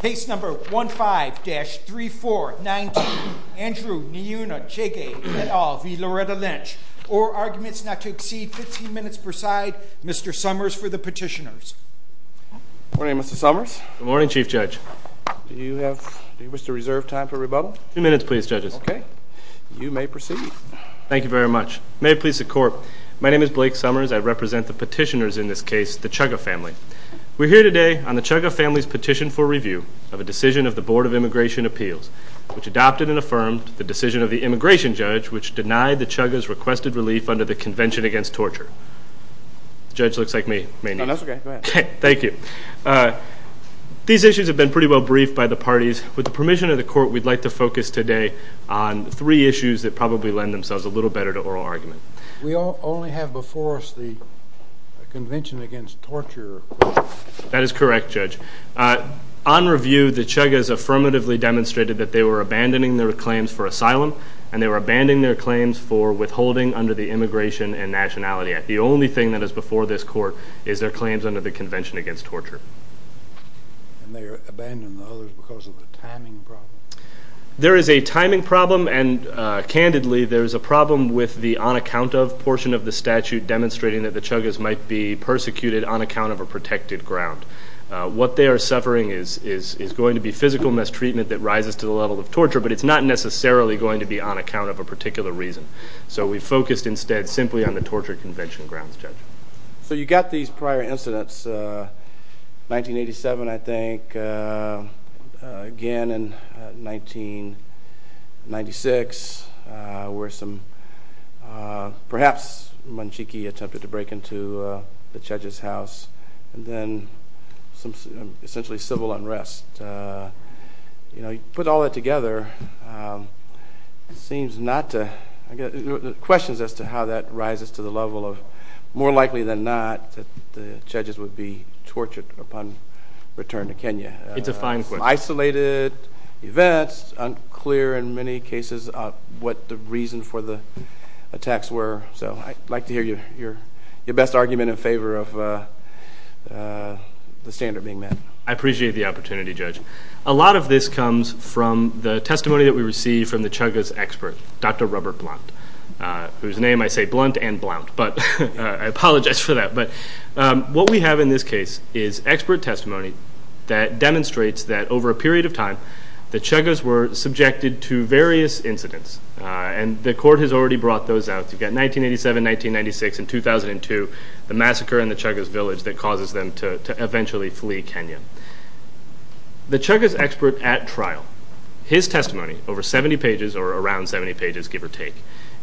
Case number 15-3419, Andrew Njuguna Chege v. Loretta Lynch, or arguments not to exceed 15 minutes per side, Mr. Summers for the petitioners. Good morning, Mr. Summers. Good morning, Chief Judge. Do you wish to reserve time for rebuttal? A few minutes, please, judges. Okay. You may proceed. Thank you very much. May it please the court, my name is Blake Summers. I represent the petitioners in this case, the Chugga family. We're here today on the Chugga family's petition for review of a decision of the Board of Immigration Appeals, which adopted and affirmed the decision of the immigration judge, which denied the Chuggas requested relief under the Convention Against Torture. The judge looks like me. Oh, that's okay. Go ahead. Thank you. These issues have been pretty well briefed by the parties. With the permission of the court, we'd like to focus today on three issues that probably lend themselves a little better to oral argument. We only have before us the Convention Against Torture. That is correct, Judge. On review, the Chuggas affirmatively demonstrated that they were abandoning their claims for asylum, and they were abandoning their claims for withholding under the Immigration and Nationality Act. The only thing that is before this court is their claims under the Convention Against Torture. And they abandoned the others because of a timing problem. There is a timing problem, and candidly, there is a problem with the on-account-of portion of the statute demonstrating that the Chuggas might be persecuted on account of a protected ground. What they are suffering is going to be physical mistreatment that rises to the level of torture, but it's not necessarily going to be on account of a particular reason. So we focused instead simply on the torture convention grounds, Judge. So you've got these prior incidents, 1987 I think, again in 1996, where perhaps Munchiki attempted to break into the Chuggas' house, and then some essentially civil unrest. You know, you put all that together, it seems not to—questions as to how that rises to the level of more likely than not that the Chuggas would be tortured upon return to Kenya. It's a fine question. Isolated events, unclear in many cases what the reason for the attacks were. So I'd like to hear your best argument in favor of the standard being met. I appreciate the opportunity, Judge. A lot of this comes from the testimony that we received from the Chuggas' expert, Dr. Robert Blount, whose name I say blunt and blount, but I apologize for that. But what we have in this case is expert testimony that demonstrates that over a period of time, the Chuggas were subjected to various incidents, and the court has already brought those out. You've got 1987, 1996, and 2002, the massacre in the Chuggas' village that causes them to eventually flee Kenya. The Chuggas' expert at trial, his testimony, over 70 pages or around 70 pages, give or take,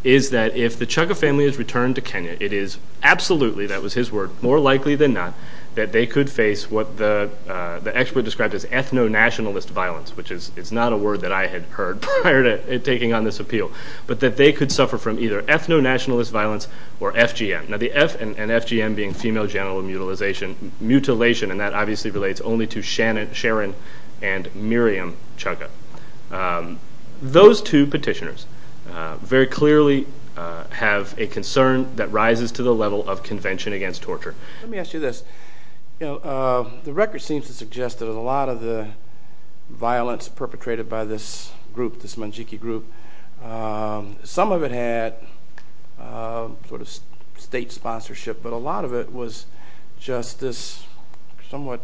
is that if the Chugga family is returned to Kenya, it is absolutely, that was his word, more likely than not, that they could face what the expert described as ethno-nationalist violence, which is not a word that I had heard prior to taking on this appeal, but that they could suffer from either ethno-nationalist violence or FGM. Now the F and FGM being female genital mutilation, and that obviously relates only to Sharon and Miriam Chugga. Those two petitioners very clearly have a concern that rises to the level of convention against torture. Let me ask you this. The record seems to suggest that a lot of the violence perpetrated by this group, this Munjiki group, some of it had state sponsorship, but a lot of it was just this somewhat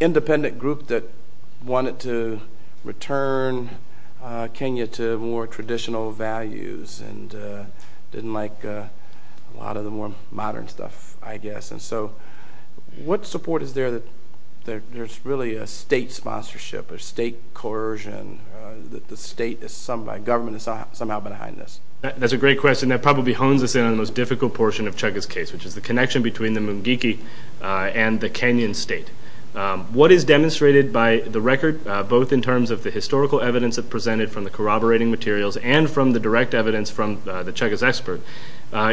independent group that wanted to return Kenya to more traditional values and didn't like a lot of the more modern stuff, I guess. And so what support is there that there's really a state sponsorship, a state coercion, that the government has somehow been behind this? That's a great question. That probably hones us in on the most difficult portion of Chugga's case, which is the connection between the Munjiki and the Kenyan state. What is demonstrated by the record, both in terms of the historical evidence presented from the corroborating materials and from the direct evidence from the Chugga's expert,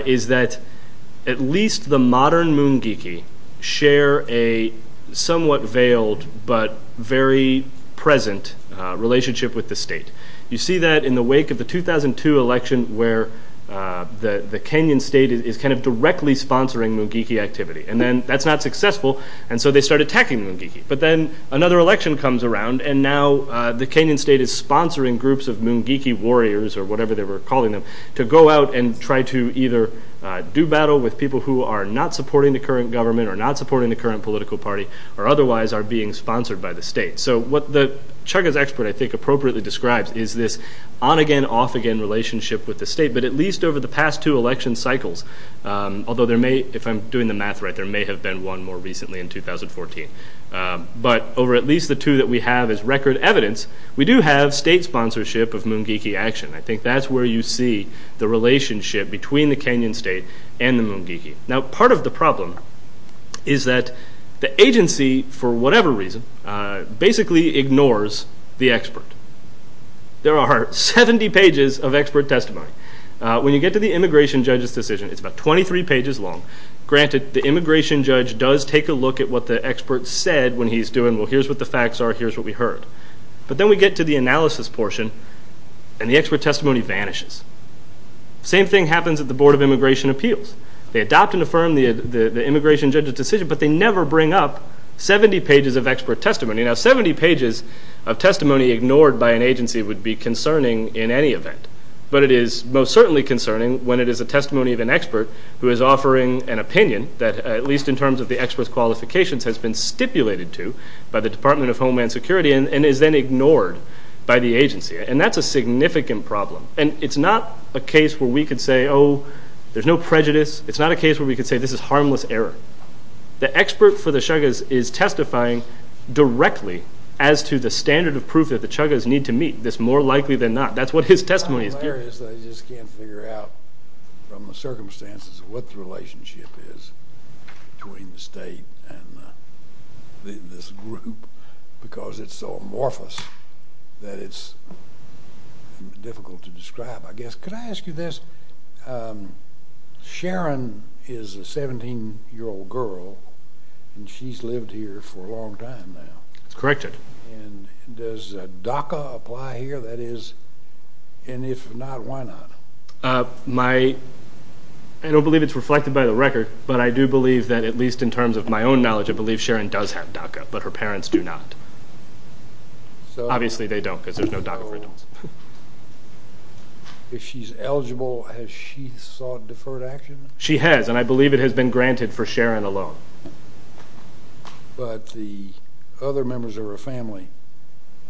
is that at least the modern Munjiki share a somewhat veiled but very present relationship with the state. You see that in the wake of the 2002 election, where the Kenyan state is kind of directly sponsoring Munjiki activity. And then that's not successful, and so they start attacking Munjiki. But then another election comes around, and now the Kenyan state is sponsoring groups of Munjiki warriors, or whatever they were calling them, to go out and try to either do battle with people who are not supporting the current government or not supporting the current political party, or otherwise are being sponsored by the state. So what the Chugga's expert, I think, appropriately describes is this on-again, off-again relationship with the state. But at least over the past two election cycles, although there may, if I'm doing the math right, there may have been one more recently in 2014, but over at least the two that we have as record evidence, we do have state sponsorship of Munjiki action. I think that's where you see the relationship between the Kenyan state and the Munjiki. Now, part of the problem is that the agency, for whatever reason, basically ignores the expert. There are 70 pages of expert testimony. When you get to the immigration judge's decision, it's about 23 pages long. Granted, the immigration judge does take a look at what the expert said when he's doing, well, here's what the facts are, here's what we heard. But then we get to the analysis portion, and the expert testimony vanishes. The same thing happens at the Board of Immigration Appeals. They adopt and affirm the immigration judge's decision, but they never bring up 70 pages of expert testimony. Now, 70 pages of testimony ignored by an agency would be concerning in any event, but it is most certainly concerning when it is a testimony of an expert who is offering an opinion that, at least in terms of the expert's qualifications, has been stipulated to by the Department of Homeland Security and is then ignored by the agency. And that's a significant problem. And it's not a case where we could say, oh, there's no prejudice. It's not a case where we could say this is harmless error. The expert for the chagas is testifying directly as to the standard of proof that the chagas need to meet. That's more likely than not. That's what his testimony is giving. It's not hilarious that he just can't figure out from the circumstances what the relationship is between the state and this group because it's so amorphous that it's difficult to describe, I guess. Could I ask you this? Sharon is a 17-year-old girl, and she's lived here for a long time now. That's correct. And does DACA apply here? That is, and if not, why not? I don't believe it's reflected by the record, but I do believe that at least in terms of my own knowledge, I do believe Sharon does have DACA, but her parents do not. Obviously they don't because there's no DACA for adults. If she's eligible, has she sought deferred action? She has, and I believe it has been granted for Sharon alone. But the other members of her family,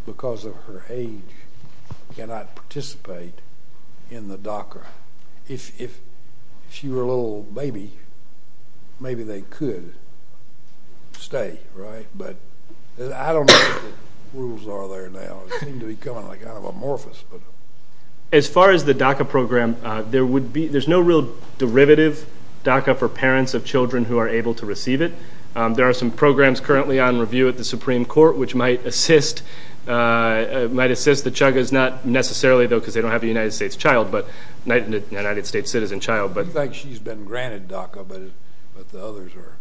because of her age, cannot participate in the DACA. If she were a little baby, maybe they could stay, right? But I don't know what the rules are there now. They seem to be kind of amorphous. As far as the DACA program, there's no real derivative DACA for parents of children who are able to receive it. There are some programs currently on review at the Supreme Court which might assist the chagas, not necessarily, though, because they don't have a United States citizen child. It seems like she's been granted DACA, but the others are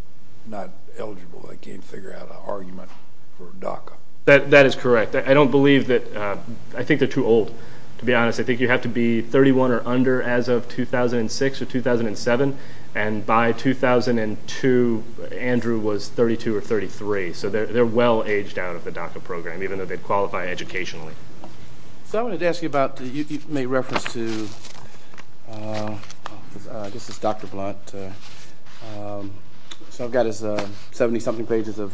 not eligible. They can't figure out an argument for DACA. That is correct. I don't believe that. I think they're too old, to be honest. I think you have to be 31 or under as of 2006 or 2007, and by 2002, Andrew was 32 or 33. So they're well aged out of the DACA program, even though they qualify educationally. I wanted to ask you about, you made reference to, I guess it's Dr. Blunt. I've got his 70-something pages of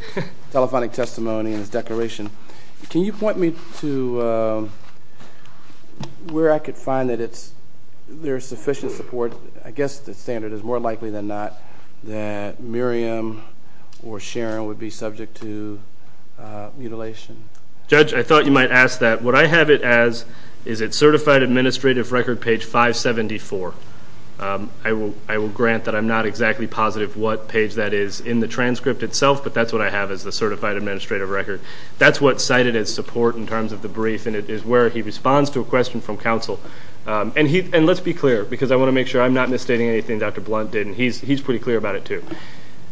telephonic testimony in his declaration. Can you point me to where I could find that there is sufficient support, I guess the standard is more likely than not, that Miriam or Sharon would be subject to mutilation? Judge, I thought you might ask that. What I have it as is it's Certified Administrative Record, page 574. I will grant that I'm not exactly positive what page that is in the transcript itself, but that's what I have is the Certified Administrative Record. That's what's cited as support in terms of the brief, and it is where he responds to a question from counsel. And let's be clear, because I want to make sure I'm not misstating anything Dr. Blunt did, and he's pretty clear about it too.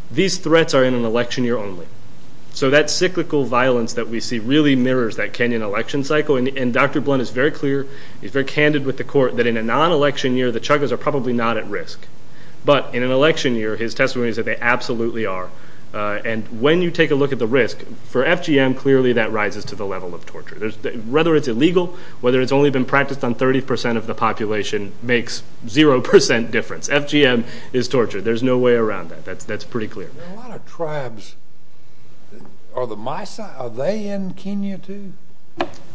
These threats are in an election year only. So that cyclical violence that we see really mirrors that Kenyan election cycle, and Dr. Blunt is very clear, he's very candid with the court, that in a non-election year, the Chagas are probably not at risk. But in an election year, his testimony is that they absolutely are. And when you take a look at the risk, for FGM, clearly that rises to the level of torture. Whether it's illegal, whether it's only been practiced on 30% of the population makes 0% difference. FGM is torture. There's no way around that. That's pretty clear. There are a lot of tribes. Are the Misa, are they in Kenya too?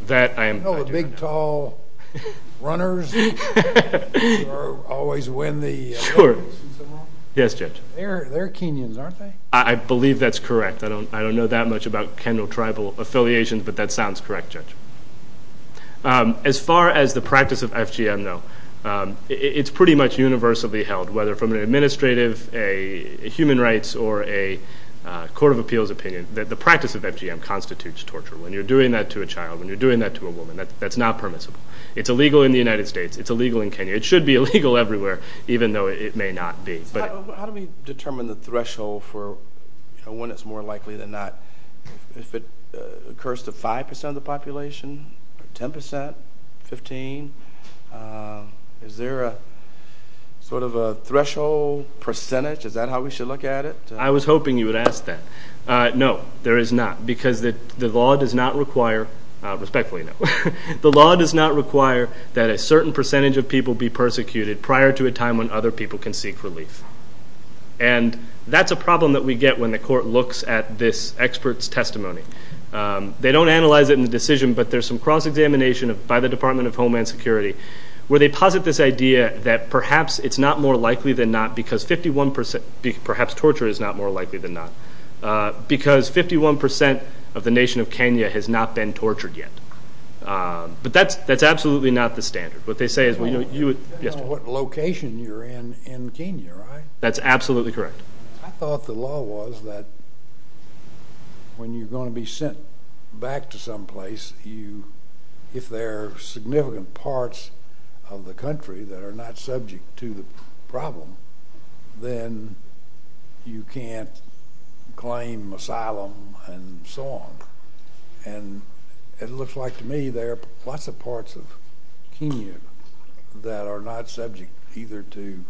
That I am not sure. You know the big, tall runners who always win the races and so on? Sure. Yes, Judge. They're Kenyans, aren't they? I believe that's correct. I don't know that much about Kenyan tribal affiliations, but that sounds correct, Judge. As far as the practice of FGM, though, it's pretty much universally held, whether from an administrative, a human rights, or a court of appeals opinion, that the practice of FGM constitutes torture. When you're doing that to a child, when you're doing that to a woman, that's not permissible. It's illegal in the United States. It's illegal in Kenya. It should be illegal everywhere, even though it may not be. How do we determine the threshold for when it's more likely than not? If it occurs to 5% of the population, 10%, 15%? Is there sort of a threshold percentage? Is that how we should look at it? I was hoping you would ask that. No, there is not, because the law does not require – respectfully, no – the law does not require that a certain percentage of people be persecuted prior to a time when other people can seek relief. And that's a problem that we get when the court looks at this expert's testimony. They don't analyze it in the decision, but there's some cross-examination by the Department of Homeland Security where they posit this idea that perhaps it's not more likely than not because 51% – perhaps torture is not more likely than not – because 51% of the nation of Kenya has not been tortured yet. But that's absolutely not the standard. It depends on what location you're in in Kenya, right? That's absolutely correct. I thought the law was that when you're going to be sent back to some place, if there are significant parts of the country that are not subject to the problem, then you can't claim asylum and so on. And it looks like to me there are lots of parts of Kenya that are not subject either to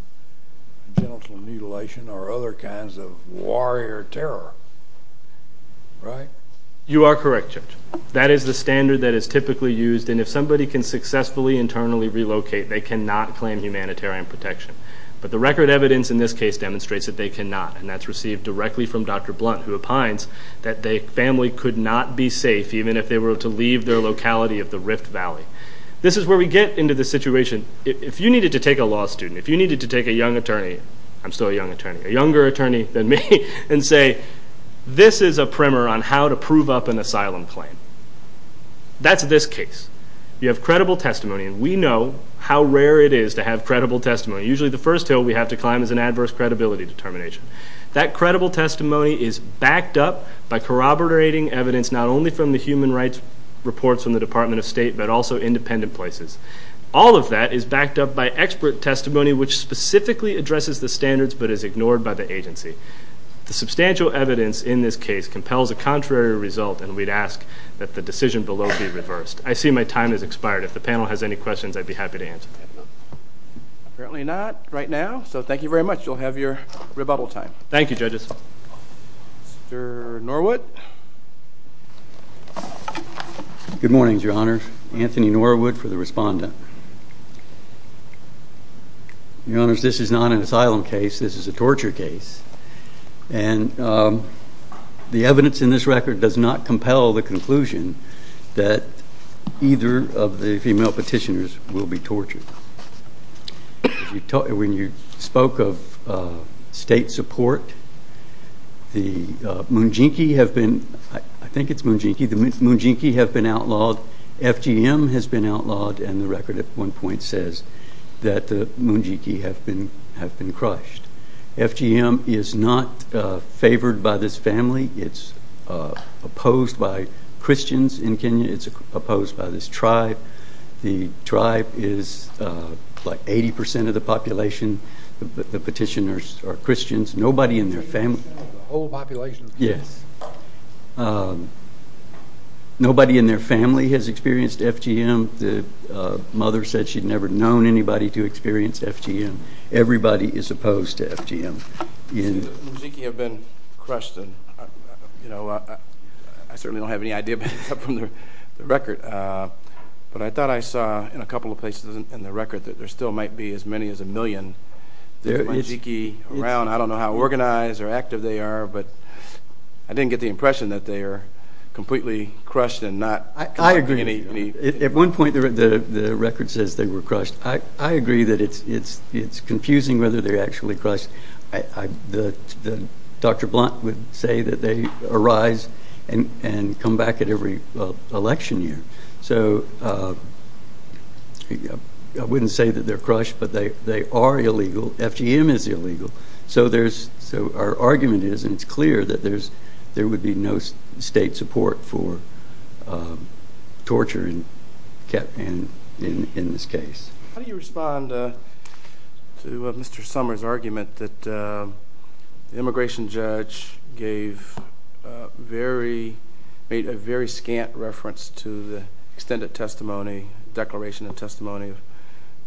genital mutilation or other kinds of warrior terror, right? You are correct, Judge. That is the standard that is typically used, and if somebody can successfully internally relocate, they cannot claim humanitarian protection. But the record evidence in this case demonstrates that they cannot, and that's received directly from Dr. Blunt, who opines that the family could not be safe even if they were to leave their locality of the Rift Valley. This is where we get into the situation. If you needed to take a law student, if you needed to take a young attorney – I'm still a young attorney – a younger attorney than me, and say this is a primer on how to prove up an asylum claim. That's this case. You have credible testimony, and we know how rare it is to have credible testimony. Usually the first hill we have to climb is an adverse credibility determination. That credible testimony is backed up by corroborating evidence not only from the human rights reports from the Department of State, but also independent places. All of that is backed up by expert testimony, which specifically addresses the standards but is ignored by the agency. The substantial evidence in this case compels a contrary result, and we'd ask that the decision below be reversed. I see my time has expired. If the panel has any questions, I'd be happy to answer them. Apparently not right now, so thank you very much. You'll have your rebuttal time. Thank you, judges. Mr. Norwood. Good morning, Your Honor. Anthony Norwood for the respondent. Your Honors, this is not an asylum case. This is a torture case, and the evidence in this record does not compel the conclusion that either of the female petitioners will be tortured. When you spoke of state support, the Munginki have been outlawed, FGM has been outlawed, and the record at one point says that the Munginki have been crushed. FGM is not favored by this family. It's opposed by Christians in Kenya. It's opposed by this tribe. The tribe is like 80 percent of the population. The petitioners are Christians. Nobody in their family has experienced FGM. The mother said she'd never known anybody to experience FGM. Everybody is opposed to FGM. The Munginki have been crushed, and I certainly don't have any idea about that from the record. But I thought I saw in a couple of places in the record that there still might be as many as a million Munginki around. I don't know how organized or active they are, but I didn't get the impression that they are completely crushed and not. I agree. At one point the record says they were crushed. I agree that it's confusing whether they're actually crushed. Dr. Blunt would say that they arise and come back at every election year. So I wouldn't say that they're crushed, but they are illegal. FGM is illegal. So our argument is, and it's clear, that there would be no state support for torture in this case. The immigration judge made a very scant reference to the extended declaration and testimony of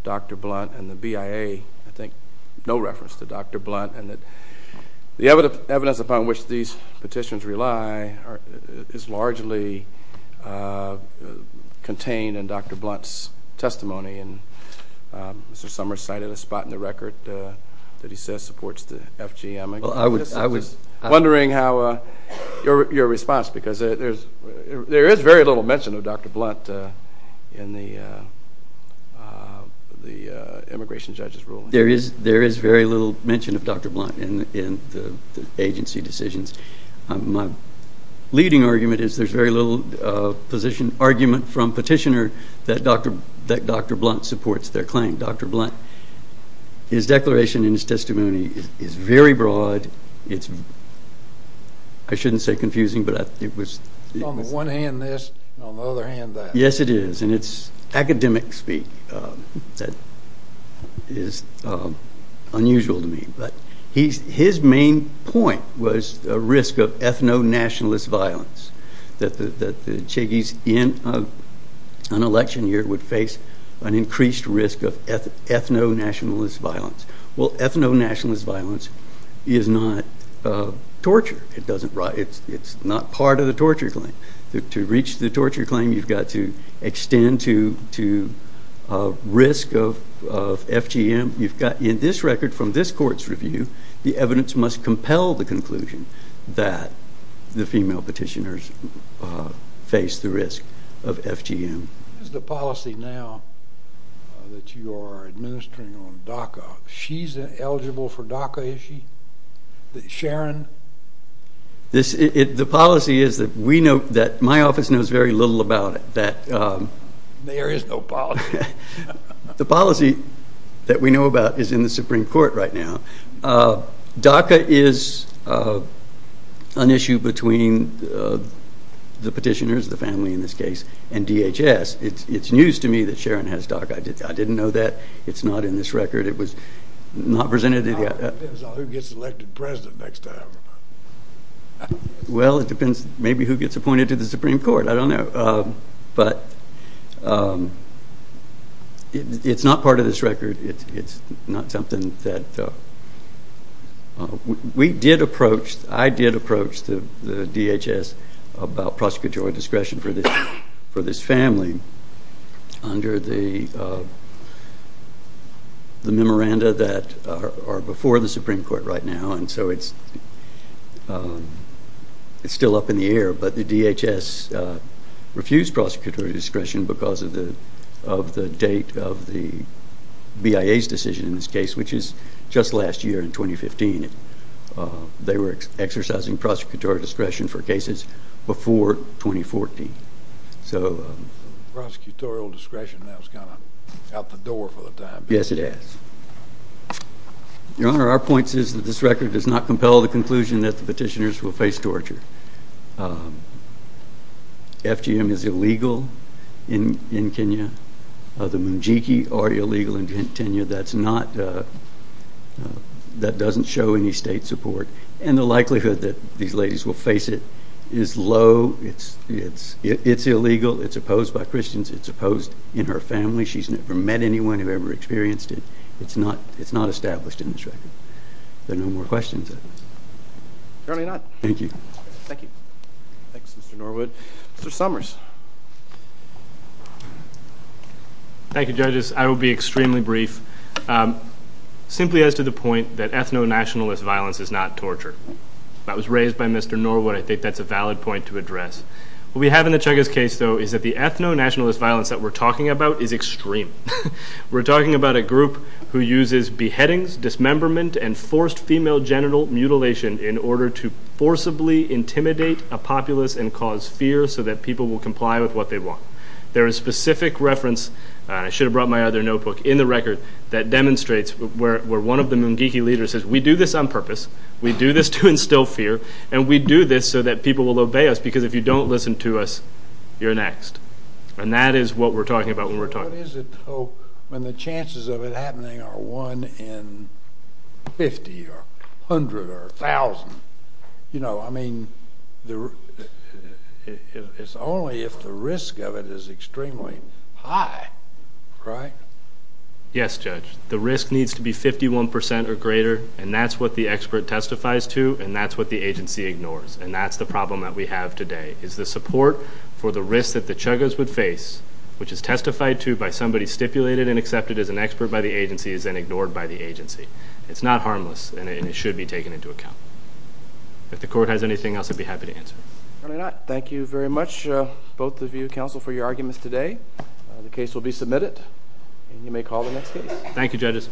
Dr. Blunt and the BIA, I think no reference to Dr. Blunt. The evidence upon which these petitions rely Mr. Summers cited a spot in the record that he says supports the FGM. I was wondering how your response, because there is very little mention of Dr. Blunt in the immigration judge's ruling. There is very little mention of Dr. Blunt in the agency decisions. My leading argument is there's very little argument from petitioner that Dr. Blunt supports their claim, Dr. Blunt. His declaration and his testimony is very broad. It's, I shouldn't say confusing, but it was... On the one hand this, on the other hand that. Yes, it is. And it's academic speak that is unusual to me. But his main point was the risk of ethno-nationalist violence that the Cheggys in an election year would face an increased risk of ethno-nationalist violence. Well, ethno-nationalist violence is not torture. It's not part of the torture claim. To reach the torture claim you've got to extend to risk of FGM. You've got in this record from this court's review the evidence must compel the conclusion that the female petitioners face the risk of FGM. Is the policy now that you are administering on DACA, she's eligible for DACA, is she? Sharon? The policy is that we know, that my office knows very little about it. There is no policy. The policy that we know about is in the Supreme Court right now. DACA is an issue between the petitioners, the family in this case, and DHS. It's news to me that Sharon has DACA. I didn't know that. It's not in this record. It was not presented. It depends on who gets elected president next time. Well, it depends maybe who gets appointed to the Supreme Court. I don't know. But it's not part of this record. It's not something that we did approach. I did approach the DHS about prosecutorial discretion for this family under the memoranda that are before the Supreme Court right now. And so it's still up in the air. But the DHS refused prosecutorial discretion because of the date of the BIA's decision in this case, which is just last year in 2015. They were exercising prosecutorial discretion for cases before 2014. Prosecutorial discretion, that was kind of out the door for the time being. Yes, it is. Your Honor, our point is that this record does not compel the conclusion that the petitioners will face torture. FGM is illegal in Kenya. The Mujiki are illegal in Kenya. That doesn't show any state support. And the likelihood that these ladies will face it is low. It's illegal. It's opposed by Christians. It's opposed in her family. She's never met anyone who ever experienced it. It's not established in this record. Are there no more questions? Apparently not. Thank you. Thank you. Thanks, Mr. Norwood. Mr. Summers. Thank you, judges. I will be extremely brief. Simply as to the point that ethno-nationalist violence is not torture. That was raised by Mr. Norwood. I think that's a valid point to address. What we have in the Cheggas case, though, is that the ethno-nationalist violence that we're talking about is extreme. We're talking about a group who uses beheadings, dismemberment, and forced female genital mutilation in order to forcibly intimidate a populace and cause fear so that people will comply with what they want. There is specific reference, and I should have brought my other notebook, in the record that demonstrates where one of the Mujiki leaders says, we do this on purpose, we do this to instill fear, and we do this so that people will obey us because if you don't listen to us, you're next. And that is what we're talking about when we're talking. What is it, though, when the chances of it happening are one in 50 or 100 or 1,000? You know, I mean, it's only if the risk of it is extremely high, right? Yes, Judge. The risk needs to be 51% or greater, and that's what the expert testifies to, and that's what the agency ignores, and that's the problem that we have today, is the support for the risk that the chagas would face, which is testified to by somebody stipulated and accepted as an expert by the agency is then ignored by the agency. It's not harmless, and it should be taken into account. If the court has anything else, I'd be happy to answer. If not, thank you very much, both of you, counsel, for your arguments today. The case will be submitted, and you may call the next case. Thank you, judges.